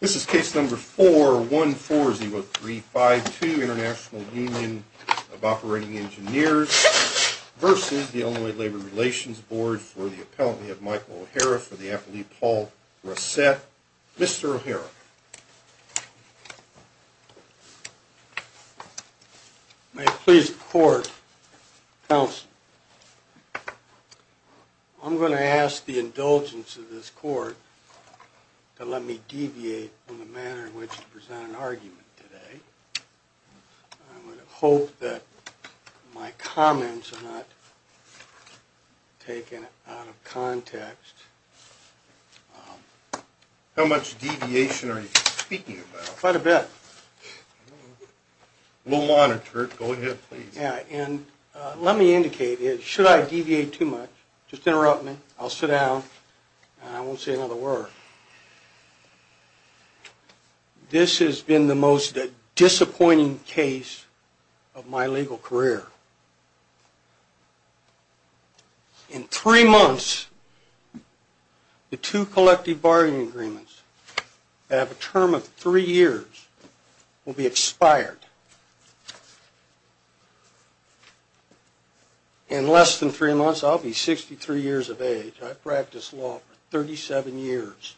This is case number 4140352, International Union of Operating Engineers v. Illinois Labor Relations Board for the appellate Michael O'Hara for the appellate Paul Rossett. Mr. O'Hara. May it please the court, counsel. I'm going to ask the indulgence of this court to let me deviate from the manner in which to present an argument today. I'm going to hope that my comments are not taken out of context. How much deviation are you speaking about? Quite a bit. We'll monitor it. Go ahead, please. And let me indicate, should I deviate too much, just interrupt me, I'll sit down, and I won't say another word. This has been the most disappointing case of my legal career. In three months, the two collective bargaining agreements that have a term of three years will be expired. In less than three months, I'll be 63 years of age. I've practiced law for 37 years.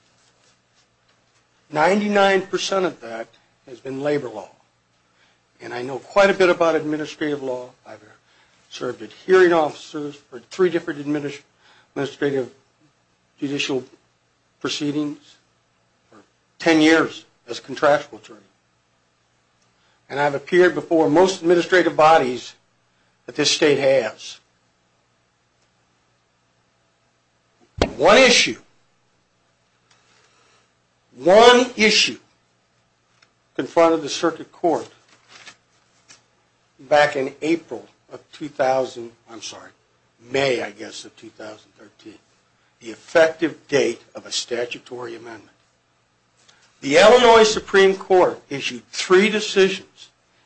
99% of that has been labor law. And I know quite a bit about administrative law. I've served as hearing officer for three different administrative judicial proceedings for 10 years as contractual attorney. And I've appeared before most administrative bodies that this state has. One issue, one issue confronted the circuit court back in April of 2000, I'm sorry, May, I guess, of 2013. The effective date of a statutory amendment. The Illinois Supreme Court issued three decisions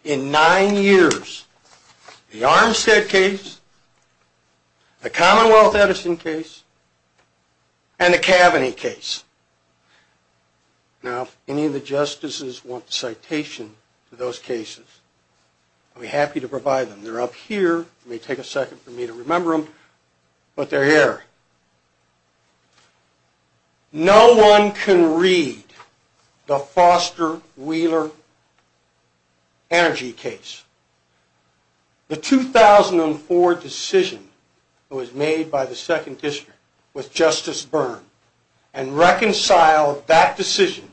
in nine years. The Armstead case, the Commonwealth Edison case, and the Kaveny case. Now, if any of the justices want the citation for those cases, I'll be happy to provide them. They're up here. It may take a second for me to remember them, but they're here. No one can read the Foster-Wheeler energy case. The 2004 decision was made by the Second District with Justice Byrne and reconciled that decision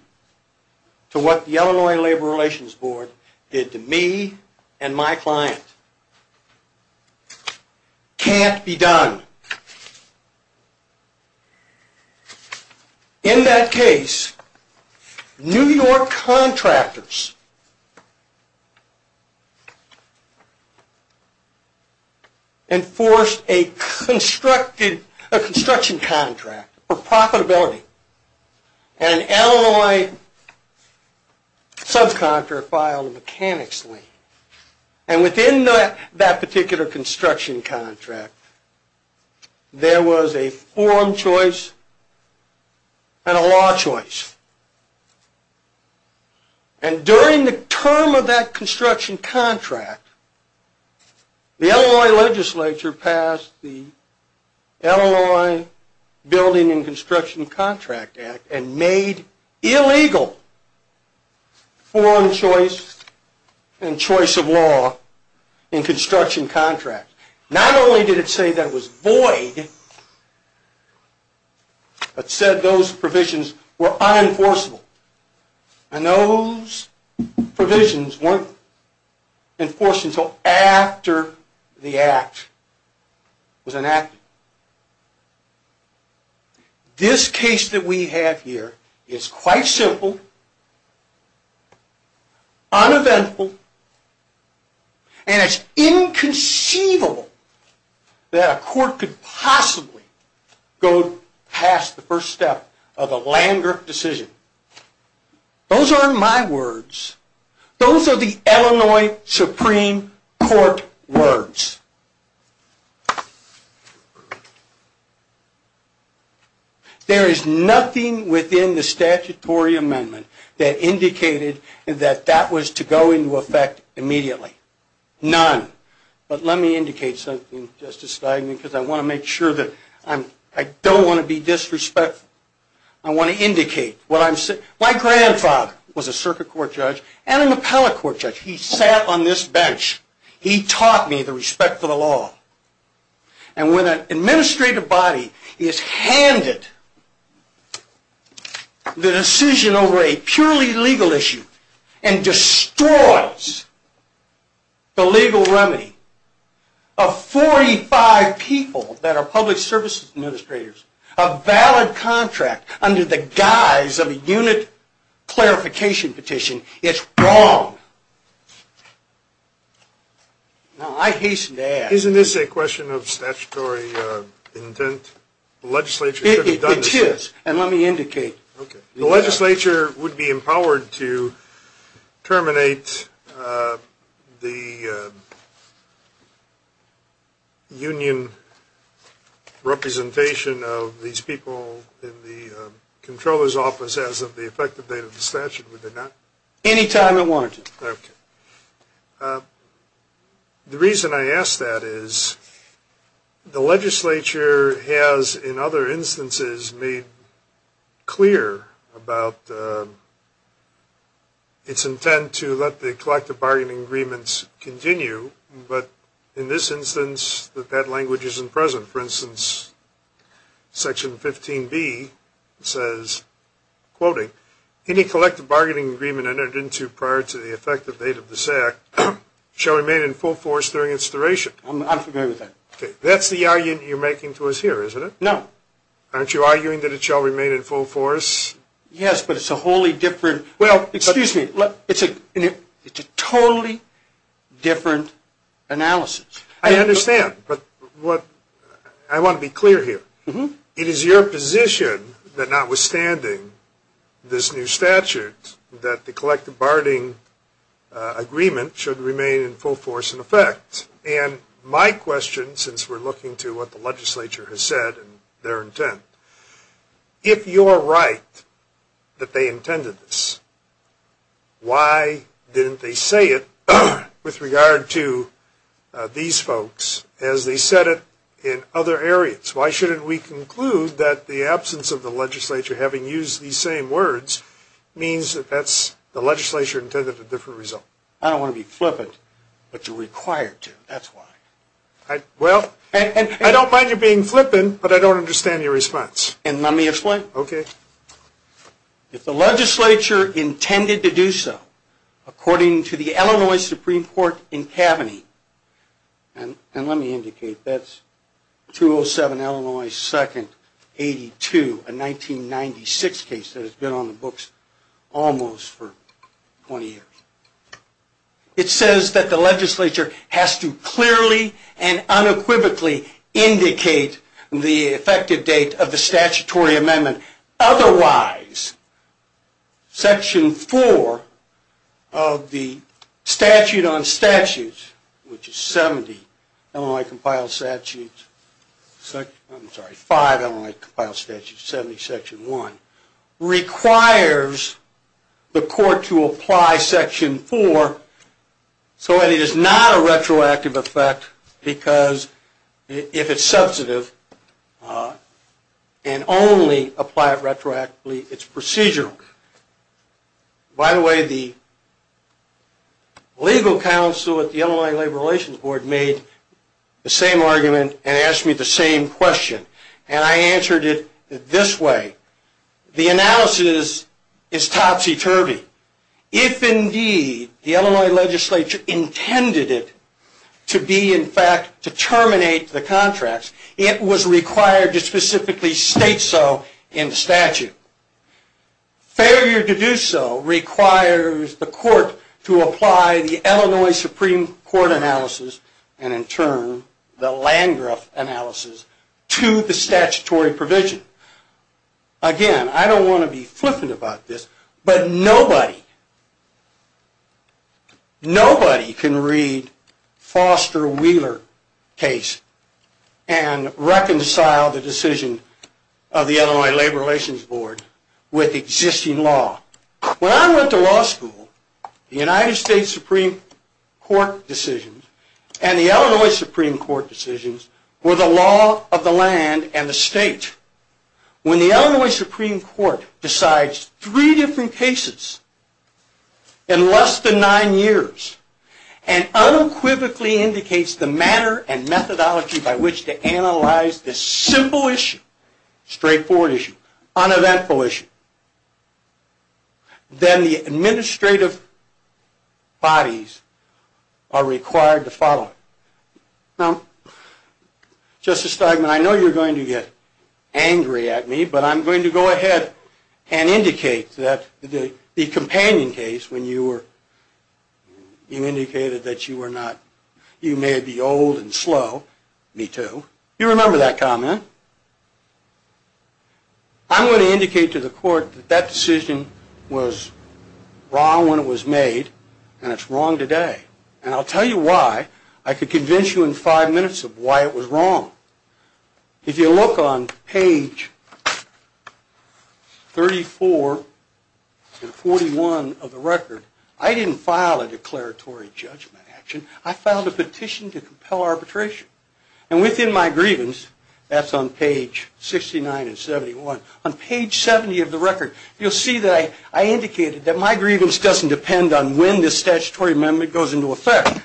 to what the Illinois Labor Relations Board did to me and my client. This can't be done. In that case, New York contractors enforced a construction contract for profitability. And an Illinois subcontractor filed a mechanics lien. And within that particular construction contract, there was a form choice and a law choice. And during the term of that construction contract, the Illinois legislature passed the Illinois Building and Construction Contract Act and made illegal form choice and choice of law in construction contracts. Not only did it say that it was void, but said those provisions were unenforceable. And those provisions weren't enforced until after the act was enacted. This case that we have here is quite simple, uneventful, and it's inconceivable that a court could possibly go past the first step of a land-grant decision. Those aren't my words. Those are the Illinois Supreme Court words. There is nothing within the statutory amendment that indicated that that was to go into effect immediately. None. But let me indicate something, Justice Steinman, because I want to make sure that I don't want to be disrespectful. I want to indicate what I'm saying. My grandfather was a circuit court judge and an appellate court judge. He sat on this bench. He taught me the respect for the law. And when an administrative body is handed the decision over a purely legal issue and destroys the legal remedy of 45 people that are public services administrators, a valid contract under the guise of a unit clarification petition, it's wrong. Now I hasten to ask... Isn't this a question of statutory intent? It is, and let me indicate. The legislature would be empowered to terminate the union representation of these people in the comptroller's office as of the effective date of the statute, would they not? Any time it warranted. Okay. The reason I ask that is the legislature has in other instances made clear about its intent to let the collective bargaining agreements continue, but in this instance that language isn't present. For instance, section 15B says, quoting, any collective bargaining agreement entered into prior to the effective date of this act shall remain in full force during its duration. I'm not familiar with that. That's the argument you're making to us here, isn't it? No. Aren't you arguing that it shall remain in full force? Yes, but it's a wholly different... Well... Excuse me. It's a totally different analysis. I understand, but I want to be clear here. It is your position that notwithstanding this new statute that the collective bargaining agreement should remain in full force in effect, and my question, since we're looking to what the legislature has said and their intent, if you're right that they intended this, why didn't they say it with regard to these folks as they said it in other areas? Why shouldn't we conclude that the absence of the legislature having used these same words means that the legislature intended a different result? I don't want to be flippant, but you're required to. That's why. Well, I don't mind you being flippant, but I don't understand your response. Let me explain. Okay. If the legislature intended to do so, according to the Illinois Supreme Court in Kaveny, and let me indicate that's 207 Illinois 2nd 82, a 1996 case that has been on the books almost for 20 years, it says that the legislature has to clearly and unequivocally indicate the effective date of the statutory amendment. Otherwise, Section 4 of the Statute on Statutes, which is 70 Illinois Compiled Statutes, I'm sorry, 5 Illinois Compiled Statutes, 70 Section 1, requires the court to apply Section 4 so that it is not a retroactive effect because if it's substantive, and only apply it retroactively, it's procedural. By the way, the legal counsel at the Illinois Labor Relations Board made the same argument and asked me the same question, and I answered it this way. The analysis is topsy-turvy. If, indeed, the Illinois legislature intended it to be, in fact, to terminate the contracts, it was required to specifically state so in the statute. Failure to do so requires the court to apply the Illinois Supreme Court analysis, and in turn, the Landgraf analysis, to the statutory provision. Again, I don't want to be flippant about this, but nobody can read Foster Wheeler's case and reconcile the decision of the Illinois Labor Relations Board with existing law. When I went to law school, the United States Supreme Court decisions and the Illinois Supreme Court decisions were the law of the land and the state. When the Illinois Supreme Court decides three different cases in less than nine years and unequivocally indicates the manner and methodology by which to analyze this simple issue, straightforward issue, uneventful issue, then the administrative bodies are required to follow. Now, Justice Steigman, I know you're going to get angry at me, but I'm going to go ahead and indicate that the companion case when you indicated that you may be old and slow. Me too. You remember that comment. I'm going to indicate to the court that that decision was wrong when it was made, and it's wrong today. And I'll tell you why. I could convince you in five minutes of why it was wrong. If you look on page 34 and 41 of the record, I didn't file a declaratory judgment action. I filed a petition to compel arbitration. And within my grievance, that's on page 69 and 71. On page 70 of the record, you'll see that I indicated that my grievance doesn't depend on when this statutory amendment goes into effect.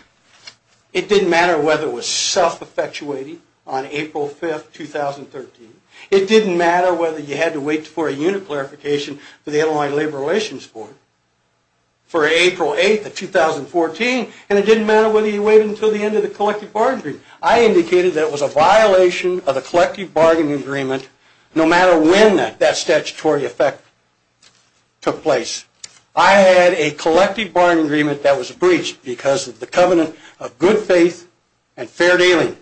It didn't matter whether it was self-effectuating on April 5, 2013. It didn't matter whether you had to wait for a unit clarification for the Illinois Labor Relations Board for April 8, 2014. And it didn't matter whether you waited until the end of the collective bargaining agreement. I indicated that it was a violation of the collective bargaining agreement no matter when that statutory effect took place. I had a collective bargaining agreement that was breached because of the covenant of good faith and fair dealing.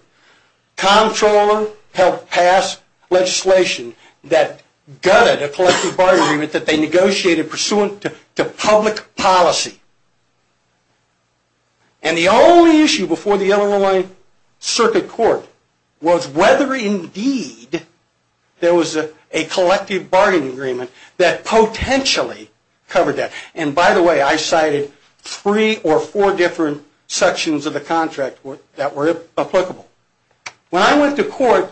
Comptroller helped pass legislation that gutted a collective bargaining agreement that they negotiated pursuant to public policy. And the only issue before the Illinois Circuit Court was whether indeed there was a collective bargaining agreement that potentially covered that. And by the way, I cited three or four different sections of the contract that were applicable. When I went to court,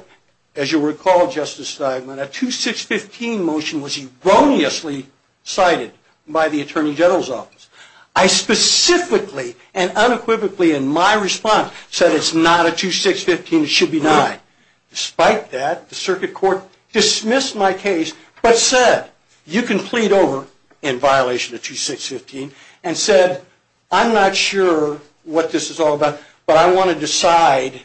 as you'll recall, Justice Steinman, a 2615 motion was erroneously cited by the Attorney General's office. I specifically and unequivocally in my response said it's not a 2615. It should be denied. Despite that, the Circuit Court dismissed my case but said you can plead over in violation of 2615 and said I'm not sure what this is all about, but I want to decide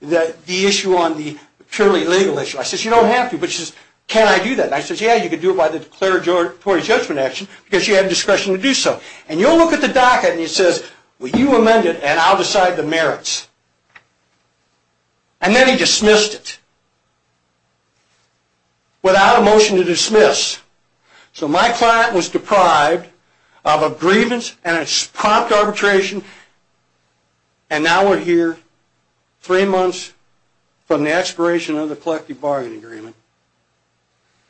the issue on the purely legal issue. I said you don't have to, but can I do that? I said yeah, you can do it by the declaratory judgment action because you have discretion to do so. And you'll look at the docket and it says you amend it and I'll decide the merits. And then he dismissed it without a motion to dismiss. So my client was deprived of a grievance and a prompt arbitration, and now we're here three months from the expiration of the collective bargaining agreement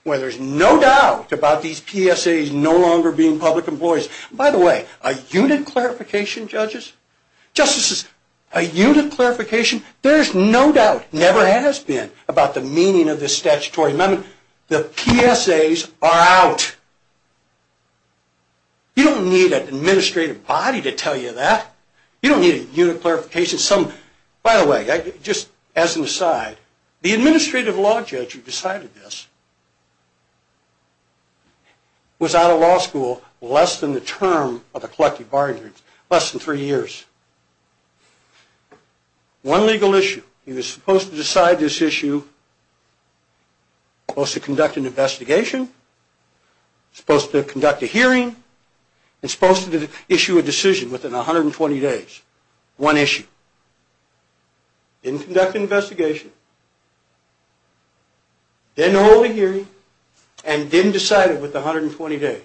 where there's no doubt about these PSAs no longer being public employees. By the way, a unit clarification, judges? Justices, a unit clarification? There's no doubt, never has been, about the meaning of this statutory amendment. The PSAs are out. You don't need an administrative body to tell you that. You don't need a unit clarification. By the way, just as an aside, the administrative law judge who decided this was out of law school less than the term of the collective bargaining agreement, less than three years. One legal issue. He was supposed to decide this issue, supposed to conduct an investigation, supposed to conduct a hearing, and supposed to issue a decision within 120 days. One issue. Didn't conduct an investigation, didn't hold a hearing, and didn't decide it within 120 days.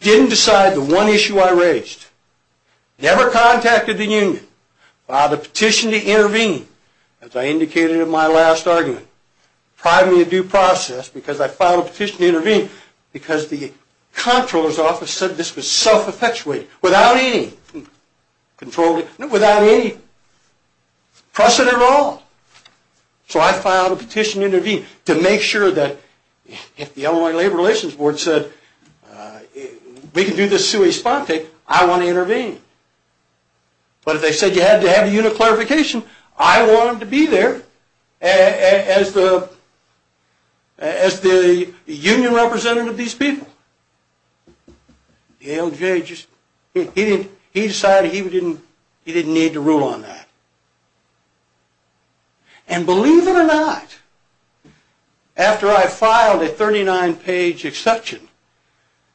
Didn't decide the one issue I raised. Never contacted the union. Filed a petition to intervene. As I indicated in my last argument, privately due process, because I filed a petition to intervene, because the comptroller's office said this was self-effectuated without any precedent at all. So I filed a petition to intervene to make sure that if the Illinois Labor Relations Board said, we can do this sui sponte, I want to intervene. But if they said you had to have a unit clarification, I wanted to be there as the union representative of these people. The ALJ, he decided he didn't need to rule on that. And believe it or not, after I filed a 39-page exception,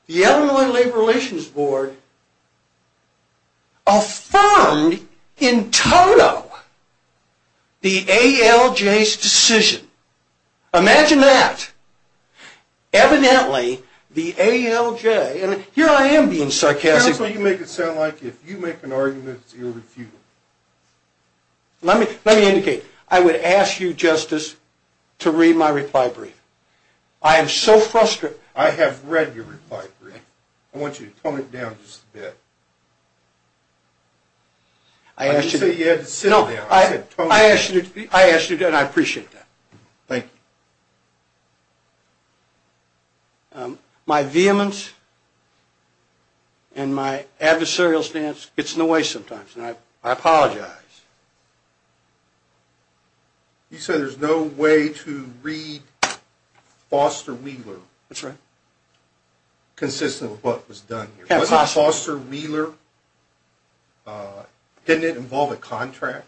the Illinois Labor Relations Board affirmed in total the ALJ's decision. Imagine that. Evidently, the ALJ, and here I am being sarcastic. Tell us what you make it sound like if you make an argument that's irrefutable. Let me indicate. I would ask you, Justice, to read my reply brief. I am so frustrated. I have read your reply brief. I want you to tone it down just a bit. I didn't say you had to sit it down. I asked you to, and I appreciate that. Thank you. My vehemence and my adversarial stance gets in the way sometimes, and I apologize. You said there's no way to read Foster Wheeler. That's right. Consistent with what was done here. Wasn't Foster Wheeler, didn't it involve a contract?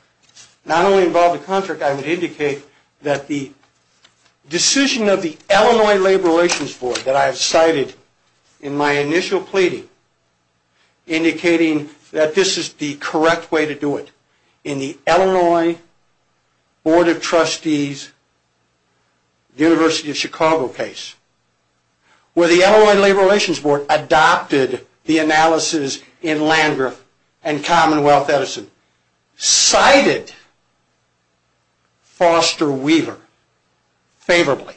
Not only involved a contract, I would indicate that the decision of the Illinois Labor Relations Board that I have cited in my initial pleading, indicating that this is the correct way to do it, in the Illinois Board of Trustees, University of Chicago case, where the Illinois Labor Relations Board adopted the analysis in Landgraf and Commonwealth Edison, cited Foster Wheeler favorably.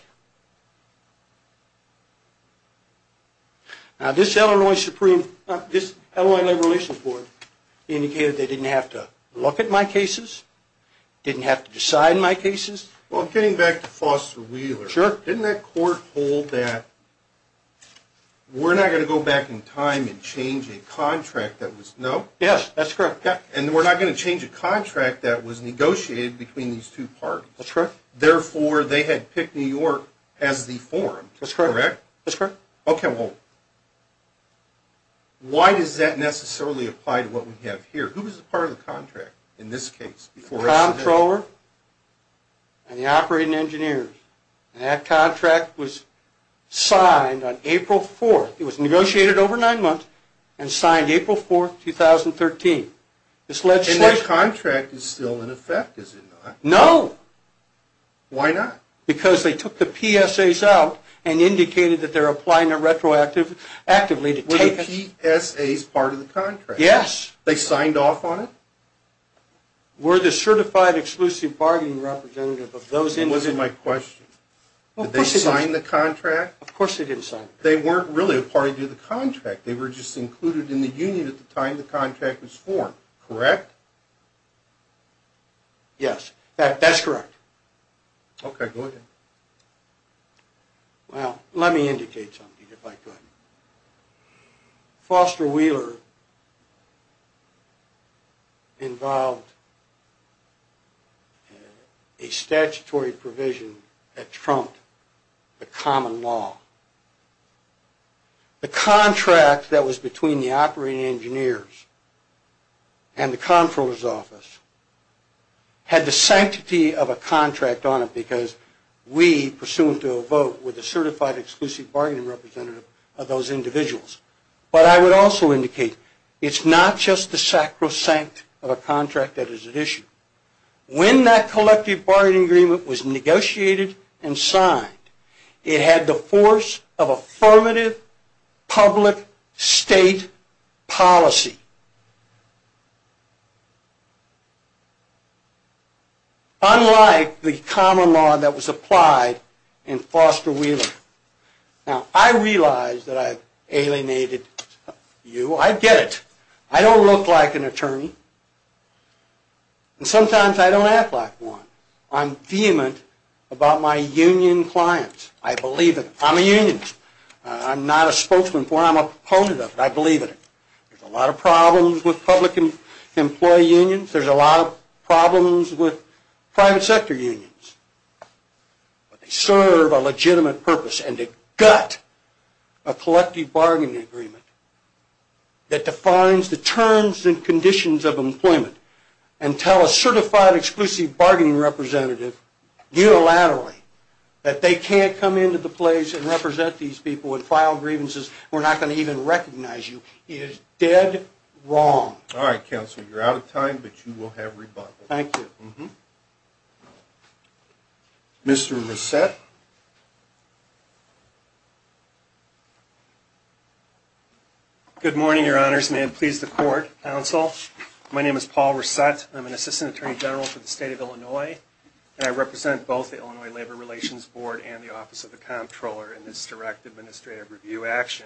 This Illinois Labor Relations Board indicated they didn't have to look at my cases, didn't have to decide my cases. Getting back to Foster Wheeler. Sure. Didn't that court hold that we're not going to go back in time and change a contract that was, no? Yes, that's correct. And we're not going to change a contract that was negotiated between these two parties. That's correct. Therefore, they had picked New York as the forum. That's correct. Correct? That's correct. Okay, well, why does that necessarily apply to what we have here? Who was a part of the contract in this case? Comptroller and the operating engineers. And that contract was signed on April 4th. It was negotiated over nine months and signed April 4th, 2013. And that contract is still in effect, is it not? No. Why not? Because they took the PSAs out and indicated that they're applying it retroactively to take it. Were the PSAs part of the contract? Yes. They signed off on it? We're the certified exclusive bargaining representative of those entities. That wasn't my question. Did they sign the contract? Of course they didn't sign it. They weren't really a part of the contract. They were just included in the union at the time the contract was formed, correct? Yes, that's correct. Okay, go ahead. Well, let me indicate something, if I could. Foster Wheeler involved a statutory provision that trumped the common law. The contract that was between the operating engineers and the Comptroller's office had the sanctity of a contract on it because we, pursuant to a vote, were the certified exclusive bargaining representative of those individuals. But I would also indicate it's not just the sacrosanct of a contract that is at issue. When that collective bargaining agreement was negotiated and signed, it had the force of affirmative public state policy. Unlike the common law that was applied in Foster Wheeler. Now, I realize that I've alienated you. I get it. I don't look like an attorney, and sometimes I don't act like one. I'm vehement about my union clients. I believe in them. I'm a unionist. I'm not a spokesman for them. I'm a proponent of them. I believe in them. There's a lot of problems. There's a lot of problems with public employee unions. There's a lot of problems with private sector unions. But they serve a legitimate purpose and they gut a collective bargaining agreement that defines the terms and conditions of employment and tell a certified exclusive bargaining representative unilaterally that they can't come into the place and represent these people and file grievances. We're not going to even recognize you. He is dead wrong. All right, Counselor. You're out of time, but you will have rebuttal. Thank you. Mr. Resett. Good morning, Your Honors. May it please the Court, Counsel. My name is Paul Resett. I'm an Assistant Attorney General for the State of Illinois, and I represent both the Illinois Labor Relations Board and the Office of the Comptroller in this direct administrative review action.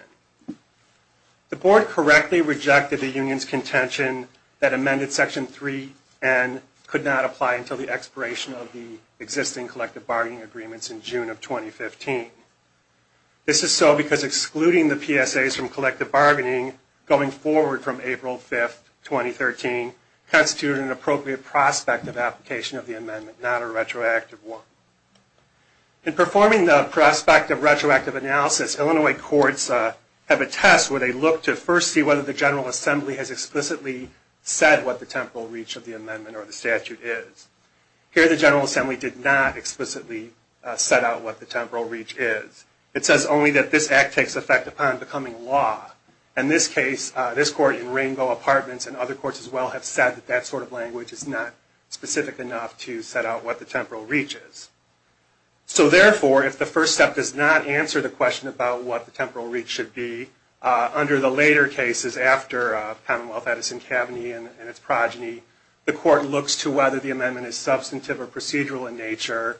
The Board correctly rejected the union's contention that amended Section 3N could not apply until the expiration of the existing collective bargaining agreements in June of 2015. This is so because excluding the PSAs from collective bargaining going forward from April 5, 2013, constitutes an appropriate prospect of application of the amendment, not a retroactive one. In performing the prospect of retroactive analysis, Illinois courts have a test where they look to first see whether the General Assembly has explicitly said what the temporal reach of the amendment or the statute is. Here, the General Assembly did not explicitly set out what the temporal reach is. It says only that this act takes effect upon becoming law. In this case, this Court in Ringo, Apartments, and other courts as well have said that that sort of language is not specific enough to set out what the temporal reach is. So therefore, if the first step does not answer the question about what the temporal reach should be, under the later cases after Commonwealth, Edison, Kaveny, and its progeny, the Court looks to whether the amendment is substantive or procedural in nature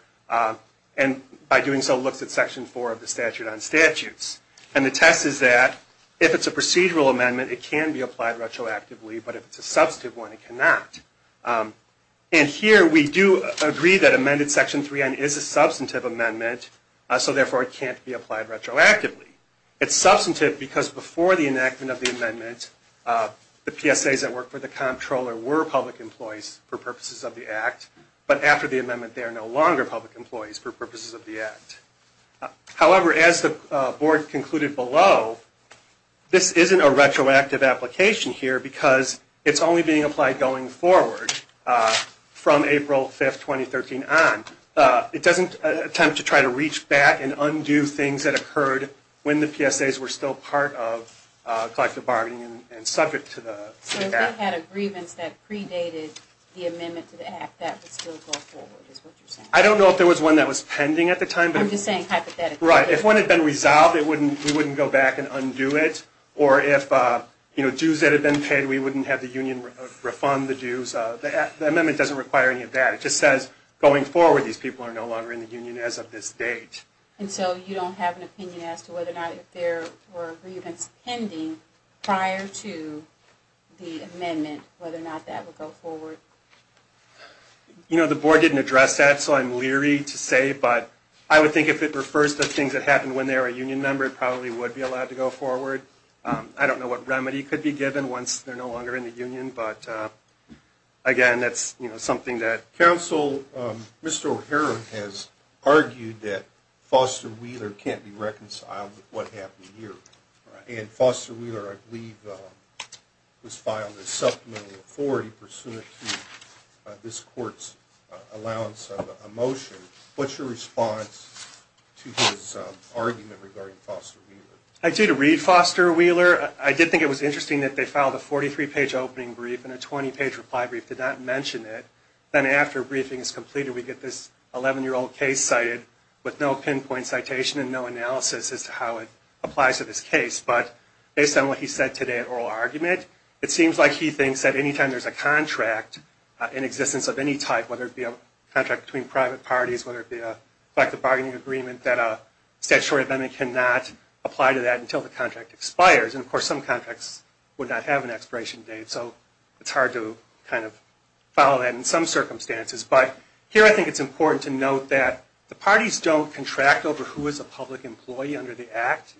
and by doing so looks at Section 4 of the Statute on Statutes. And the test is that if it's a procedural amendment, it can be applied retroactively, but if it's a substantive one, it cannot. And here we do agree that amended Section 3N is a substantive amendment, so therefore it can't be applied retroactively. It's substantive because before the enactment of the amendment, the PSAs that work for the comptroller were public employees for purposes of the act, but after the amendment they are no longer public employees for purposes of the act. However, as the Board concluded below, this isn't a retroactive application here because it's only being applied going forward from April 5, 2013 on. It doesn't attempt to try to reach back and undo things that occurred when the PSAs were still part of collective bargaining and subject to the act. So if they had a grievance that predated the amendment to the act, that would still go forward, is what you're saying? I don't know if there was one that was pending at the time. I'm just saying hypothetically. Right. If one had been resolved, we wouldn't go back and undo it. Or if dues had been paid, we wouldn't have the union refund the dues. The amendment doesn't require any of that. It just says going forward these people are no longer in the union as of this date. And so you don't have an opinion as to whether or not if there were grievance pending prior to the amendment, whether or not that would go forward? You know, the Board didn't address that, so I'm leery to say, but I would think if it refers to things that happened when they were a union member, it probably would be allowed to go forward. I don't know what remedy could be given once they're no longer in the union, but, again, that's something that... Counsel, Mr. O'Hara has argued that Foster Wheeler can't be reconciled with what happened here. And Foster Wheeler, I believe, was filed as supplemental authority pursuant to this court's allowance of a motion. What's your response to his argument regarding Foster Wheeler? I do read Foster Wheeler. I did think it was interesting that they filed a 43-page opening brief and a 20-page reply brief did not mention it. Then after a briefing is completed, we get this 11-year-old case cited with no pinpoint citation and no analysis as to how it applies to this case. But based on what he said today at oral argument, it seems like he thinks that any time there's a contract in existence of any type, whether it be a contract between private parties, whether it be a collective bargaining agreement, that a statutory amendment cannot apply to that until the contract expires. And, of course, some contracts would not have an expiration date, so it's hard to kind of follow that in some circumstances. But here I think it's important to note that the parties don't contract over who is a public employee under the Act.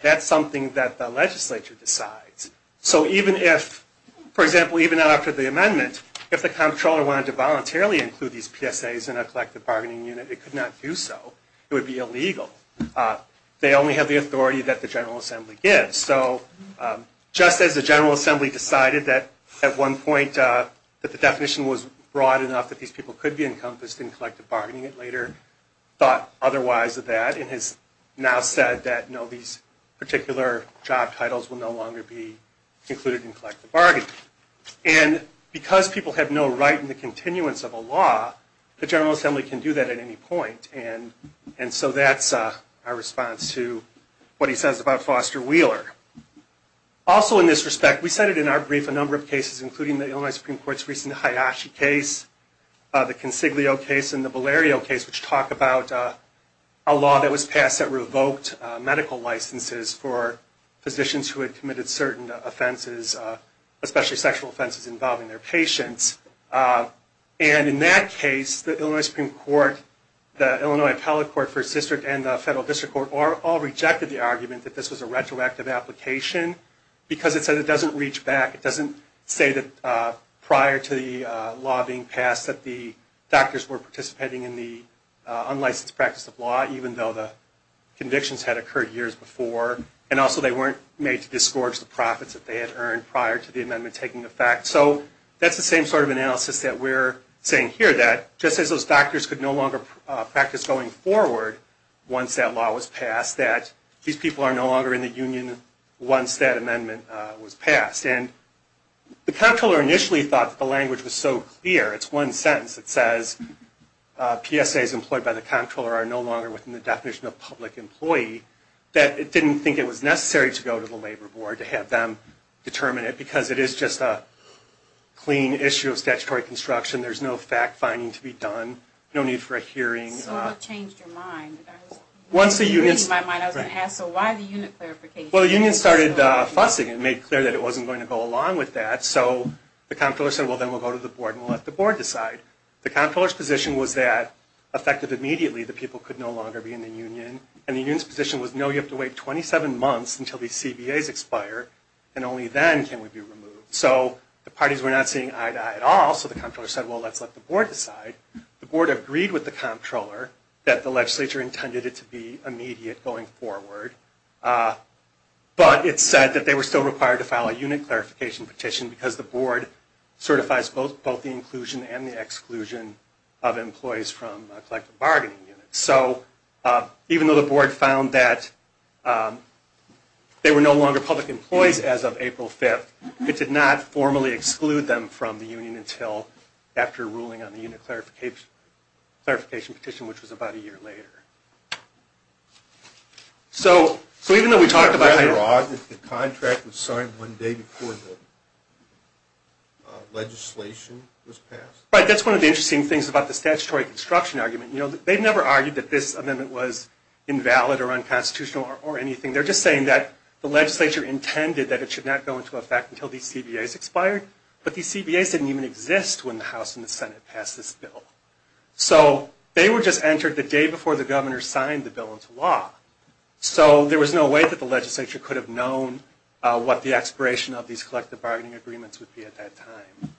That's something that the legislature decides. So even if, for example, even after the amendment, if the comptroller wanted to voluntarily include these PSAs in a collective bargaining unit, it could not do so. It would be illegal. They only have the authority that the General Assembly gives. So just as the General Assembly decided that at one point that the definition was broad enough that these people could be encompassed in collective bargaining, it later thought otherwise of that and has now said that these particular job titles will no longer be included in collective bargaining. And because people have no right in the continuance of a law, the General Assembly can do that at any point. And so that's our response to what he says about Foster Wheeler. Also in this respect, we cited in our brief a number of cases, including the Illinois Supreme Court's recent Hayashi case, the Consiglio case, and the Valerio case, which talk about a law that was passed that revoked medical licenses for physicians who had committed certain offenses, especially sexual offenses involving their patients. And in that case, the Illinois Supreme Court, the Illinois Appellate Court First District, and the Federal District Court all rejected the argument that this was a retroactive application because it said it doesn't reach back. It doesn't say that prior to the law being passed that the doctors were participating in the unlicensed practice of law, even though the convictions had occurred years before. And also they weren't made to disgorge the profits that they had earned prior to the amendment taking effect. So that's the same sort of analysis that we're saying here, that just as those doctors could no longer practice going forward once that law was passed, that these people are no longer in the union once that amendment was passed. And the comptroller initially thought that the language was so clear, it's one sentence that says, PSAs employed by the comptroller are no longer within the definition of public employee, that it didn't think it was necessary to go to the labor board to have them determine it, because it is just a clean issue of statutory construction. There's no fact-finding to be done, no need for a hearing. So what changed your mind? Once the union... I was going to ask, so why the unit clarification? Well, the union started fussing and made clear that it wasn't going to go along with that. So the comptroller said, well, then we'll go to the board and let the board decide. The comptroller's position was that, effective immediately, the people could no longer be in the union. And the union's position was, no, you have to wait 27 months until these CBAs expire, and only then can we be removed. So the parties were not seeing eye to eye at all, so the comptroller said, well, let's let the board decide. The board agreed with the comptroller that the legislature intended it to be immediate going forward. But it said that they were still required to file a unit clarification petition, because the board certifies both the inclusion and the exclusion of employees from collective bargaining units. So even though the board found that they were no longer public employees as of April 5th, it did not formally exclude them from the union until after ruling on the unit clarification petition, which was about a year later. So even though we talked about the contract was signed one day before the legislation was passed. Right, that's one of the interesting things about the statutory construction argument. They've never argued that this amendment was invalid or unconstitutional or anything. They're just saying that the legislature intended that it should not go into effect until these CBAs expired. But these CBAs didn't even exist when the House and the Senate passed this bill. So they were just entered the day before the governor signed the bill into law. So there was no way that the legislature could have known what the expiration of these collective bargaining agreements would be at that time.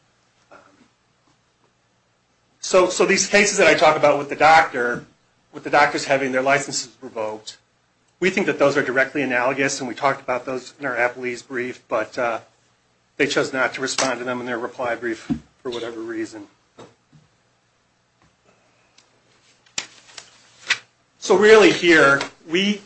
So these cases that I talk about with the doctor, with the doctors having their licenses revoked, we think that those are directly analogous. And we talked about those in our Applebee's brief. But they chose not to respond to them in their reply brief for whatever reason. So really here we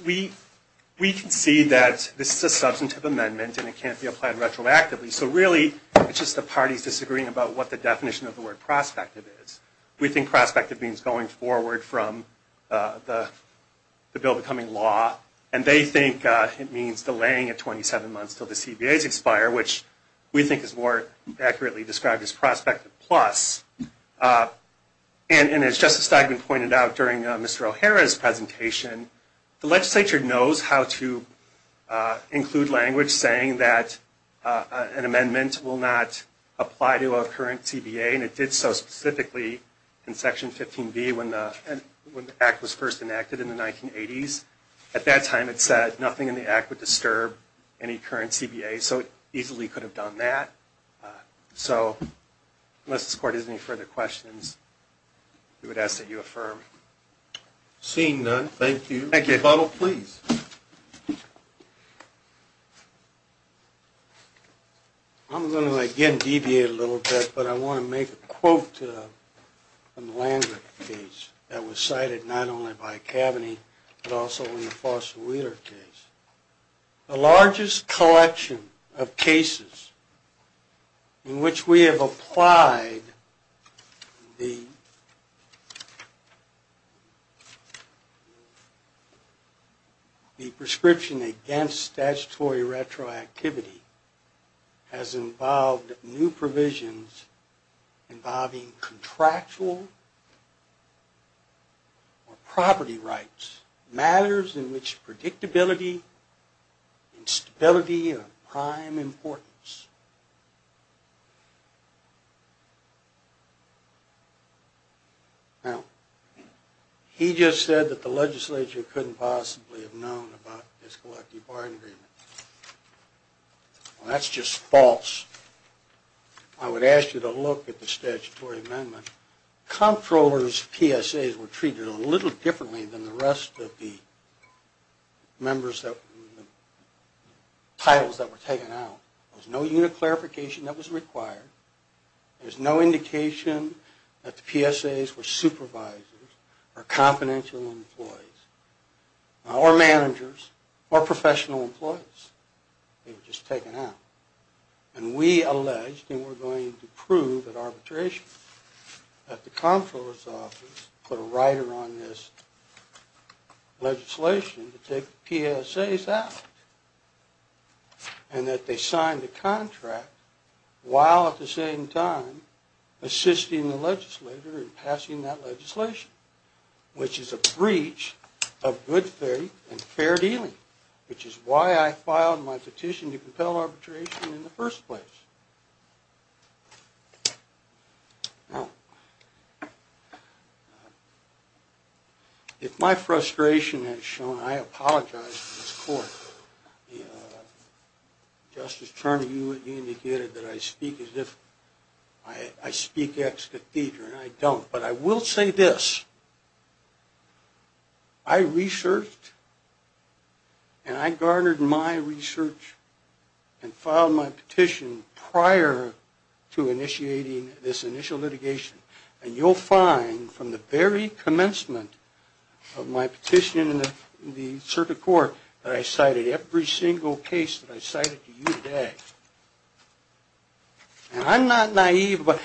can see that this is a substantive amendment and it can't be applied retroactively. So really it's just the parties disagreeing about what the definition of the word prospective is. We think prospective means going forward from the bill becoming law. And they think it means delaying it 27 months until the CBAs expire, which we think is more accurately described as prospective plus. And as Justice Steigman pointed out during Mr. O'Hara's presentation, the legislature knows how to include language saying that an amendment will not apply to a current CBA. And it did so specifically in Section 15B when the act was first enacted in the 1980s. At that time it said nothing in the act would disturb any current CBA. So it easily could have done that. So unless this court has any further questions, we would ask that you affirm. Seeing none, thank you. Thank you. Counsel, please. I'm going to, again, deviate a little bit, but I want to make a quote from the Landry case that was cited not only by Kaveny, but also in the Foster Wheeler case. The largest collection of cases in which we have applied the prescription against statutory retroactivity has involved new provisions involving contractual or property rights, matters in which predictability and stability are of prime importance. Now, he just said that the legislature couldn't possibly have known about this collective bargaining agreement. Well, that's just false. I would ask you to look at the statutory amendment. Comptroller's PSAs were treated a little differently than the rest of the titles that were taken out. There was no unit clarification that was required. There's no indication that the PSAs were supervisors or confidential employees or managers or professional employees. They were just taken out. And we alleged, and we're going to prove at arbitration, that the Comptroller's office put a rider on this legislation to take the PSAs out and that they signed the contract while at the same time assisting the legislature in passing that legislation, which is a breach of good faith and fair dealing, which is why I filed my petition to compel arbitration in the first place. Now, if my frustration has shown, I apologize to this court. Justice Turner, you indicated that I speak as if I speak ex cathedra, and I don't. But I will say this. I researched and I garnered my research and filed my petition prior to initiating this initial litigation. And you'll find from the very commencement of my petition in the circuit court that I cited every single case that I cited to you today. And I'm not naive, but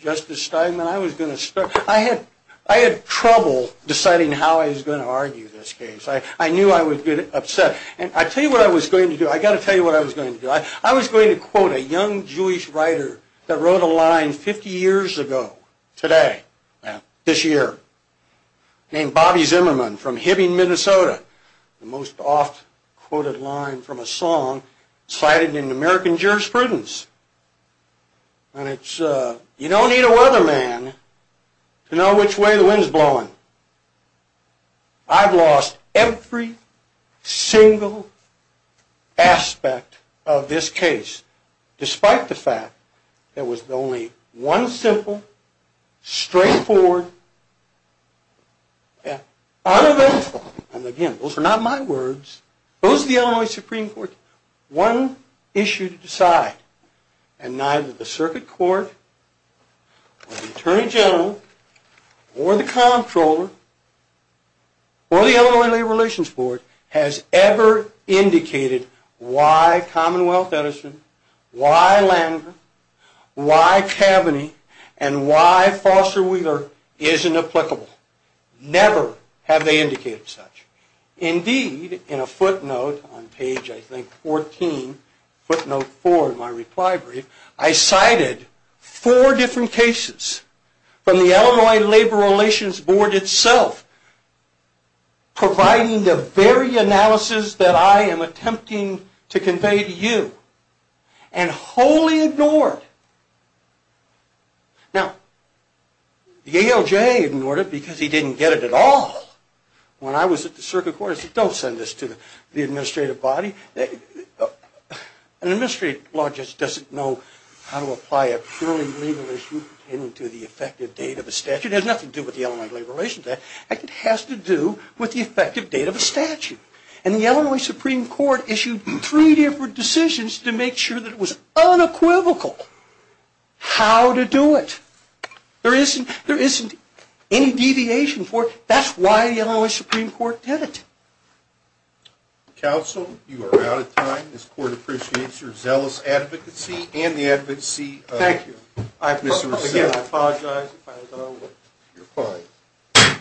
Justice Steinman, I had trouble deciding how I was going to argue this case. I knew I was going to get upset. And I'll tell you what I was going to do. I've got to tell you what I was going to do. I was going to quote a young Jewish writer that wrote a line 50 years ago today, this year, named Bobby Zimmerman from Hibbing, Minnesota. The most oft-quoted line from a song cited in American jurisprudence. And it's, you don't need a weatherman to know which way the wind's blowing. I've lost every single aspect of this case, despite the fact that it was only one simple, straightforward, uneventful, and again, those are not my words, those are the Illinois Supreme Court, one issue to decide. And neither the circuit court, or the attorney general, or the comptroller, or the Illinois Labor Relations Board, has ever indicated why Commonwealth Edison, why Landgraf, why Kaveny, and why Foster Wheeler isn't applicable. Never have they indicated such. Indeed, in a footnote on page, I think, 14, footnote 4 in my reply brief, I cited four different cases from the Illinois Labor Relations Board itself, providing the very analysis that I am attempting to convey to you, and wholly ignored. Now, the ALJ ignored it because he didn't get it at all. When I was at the circuit court, I said, don't send this to the administrative body. An administrative law just doesn't know how to apply a purely legal issue to the effective date of a statute. It has nothing to do with the Illinois Labor Relations Act. In fact, it has to do with the effective date of a statute. And the Illinois Supreme Court issued three different decisions to make sure that it was unequivocal how to do it. There isn't any deviation for it. That's why the Illinois Supreme Court did it. Counsel, you are out of time. This court appreciates your zealous advocacy, and the advocacy of... Thank you. I apologize if I was out of order. You're fine.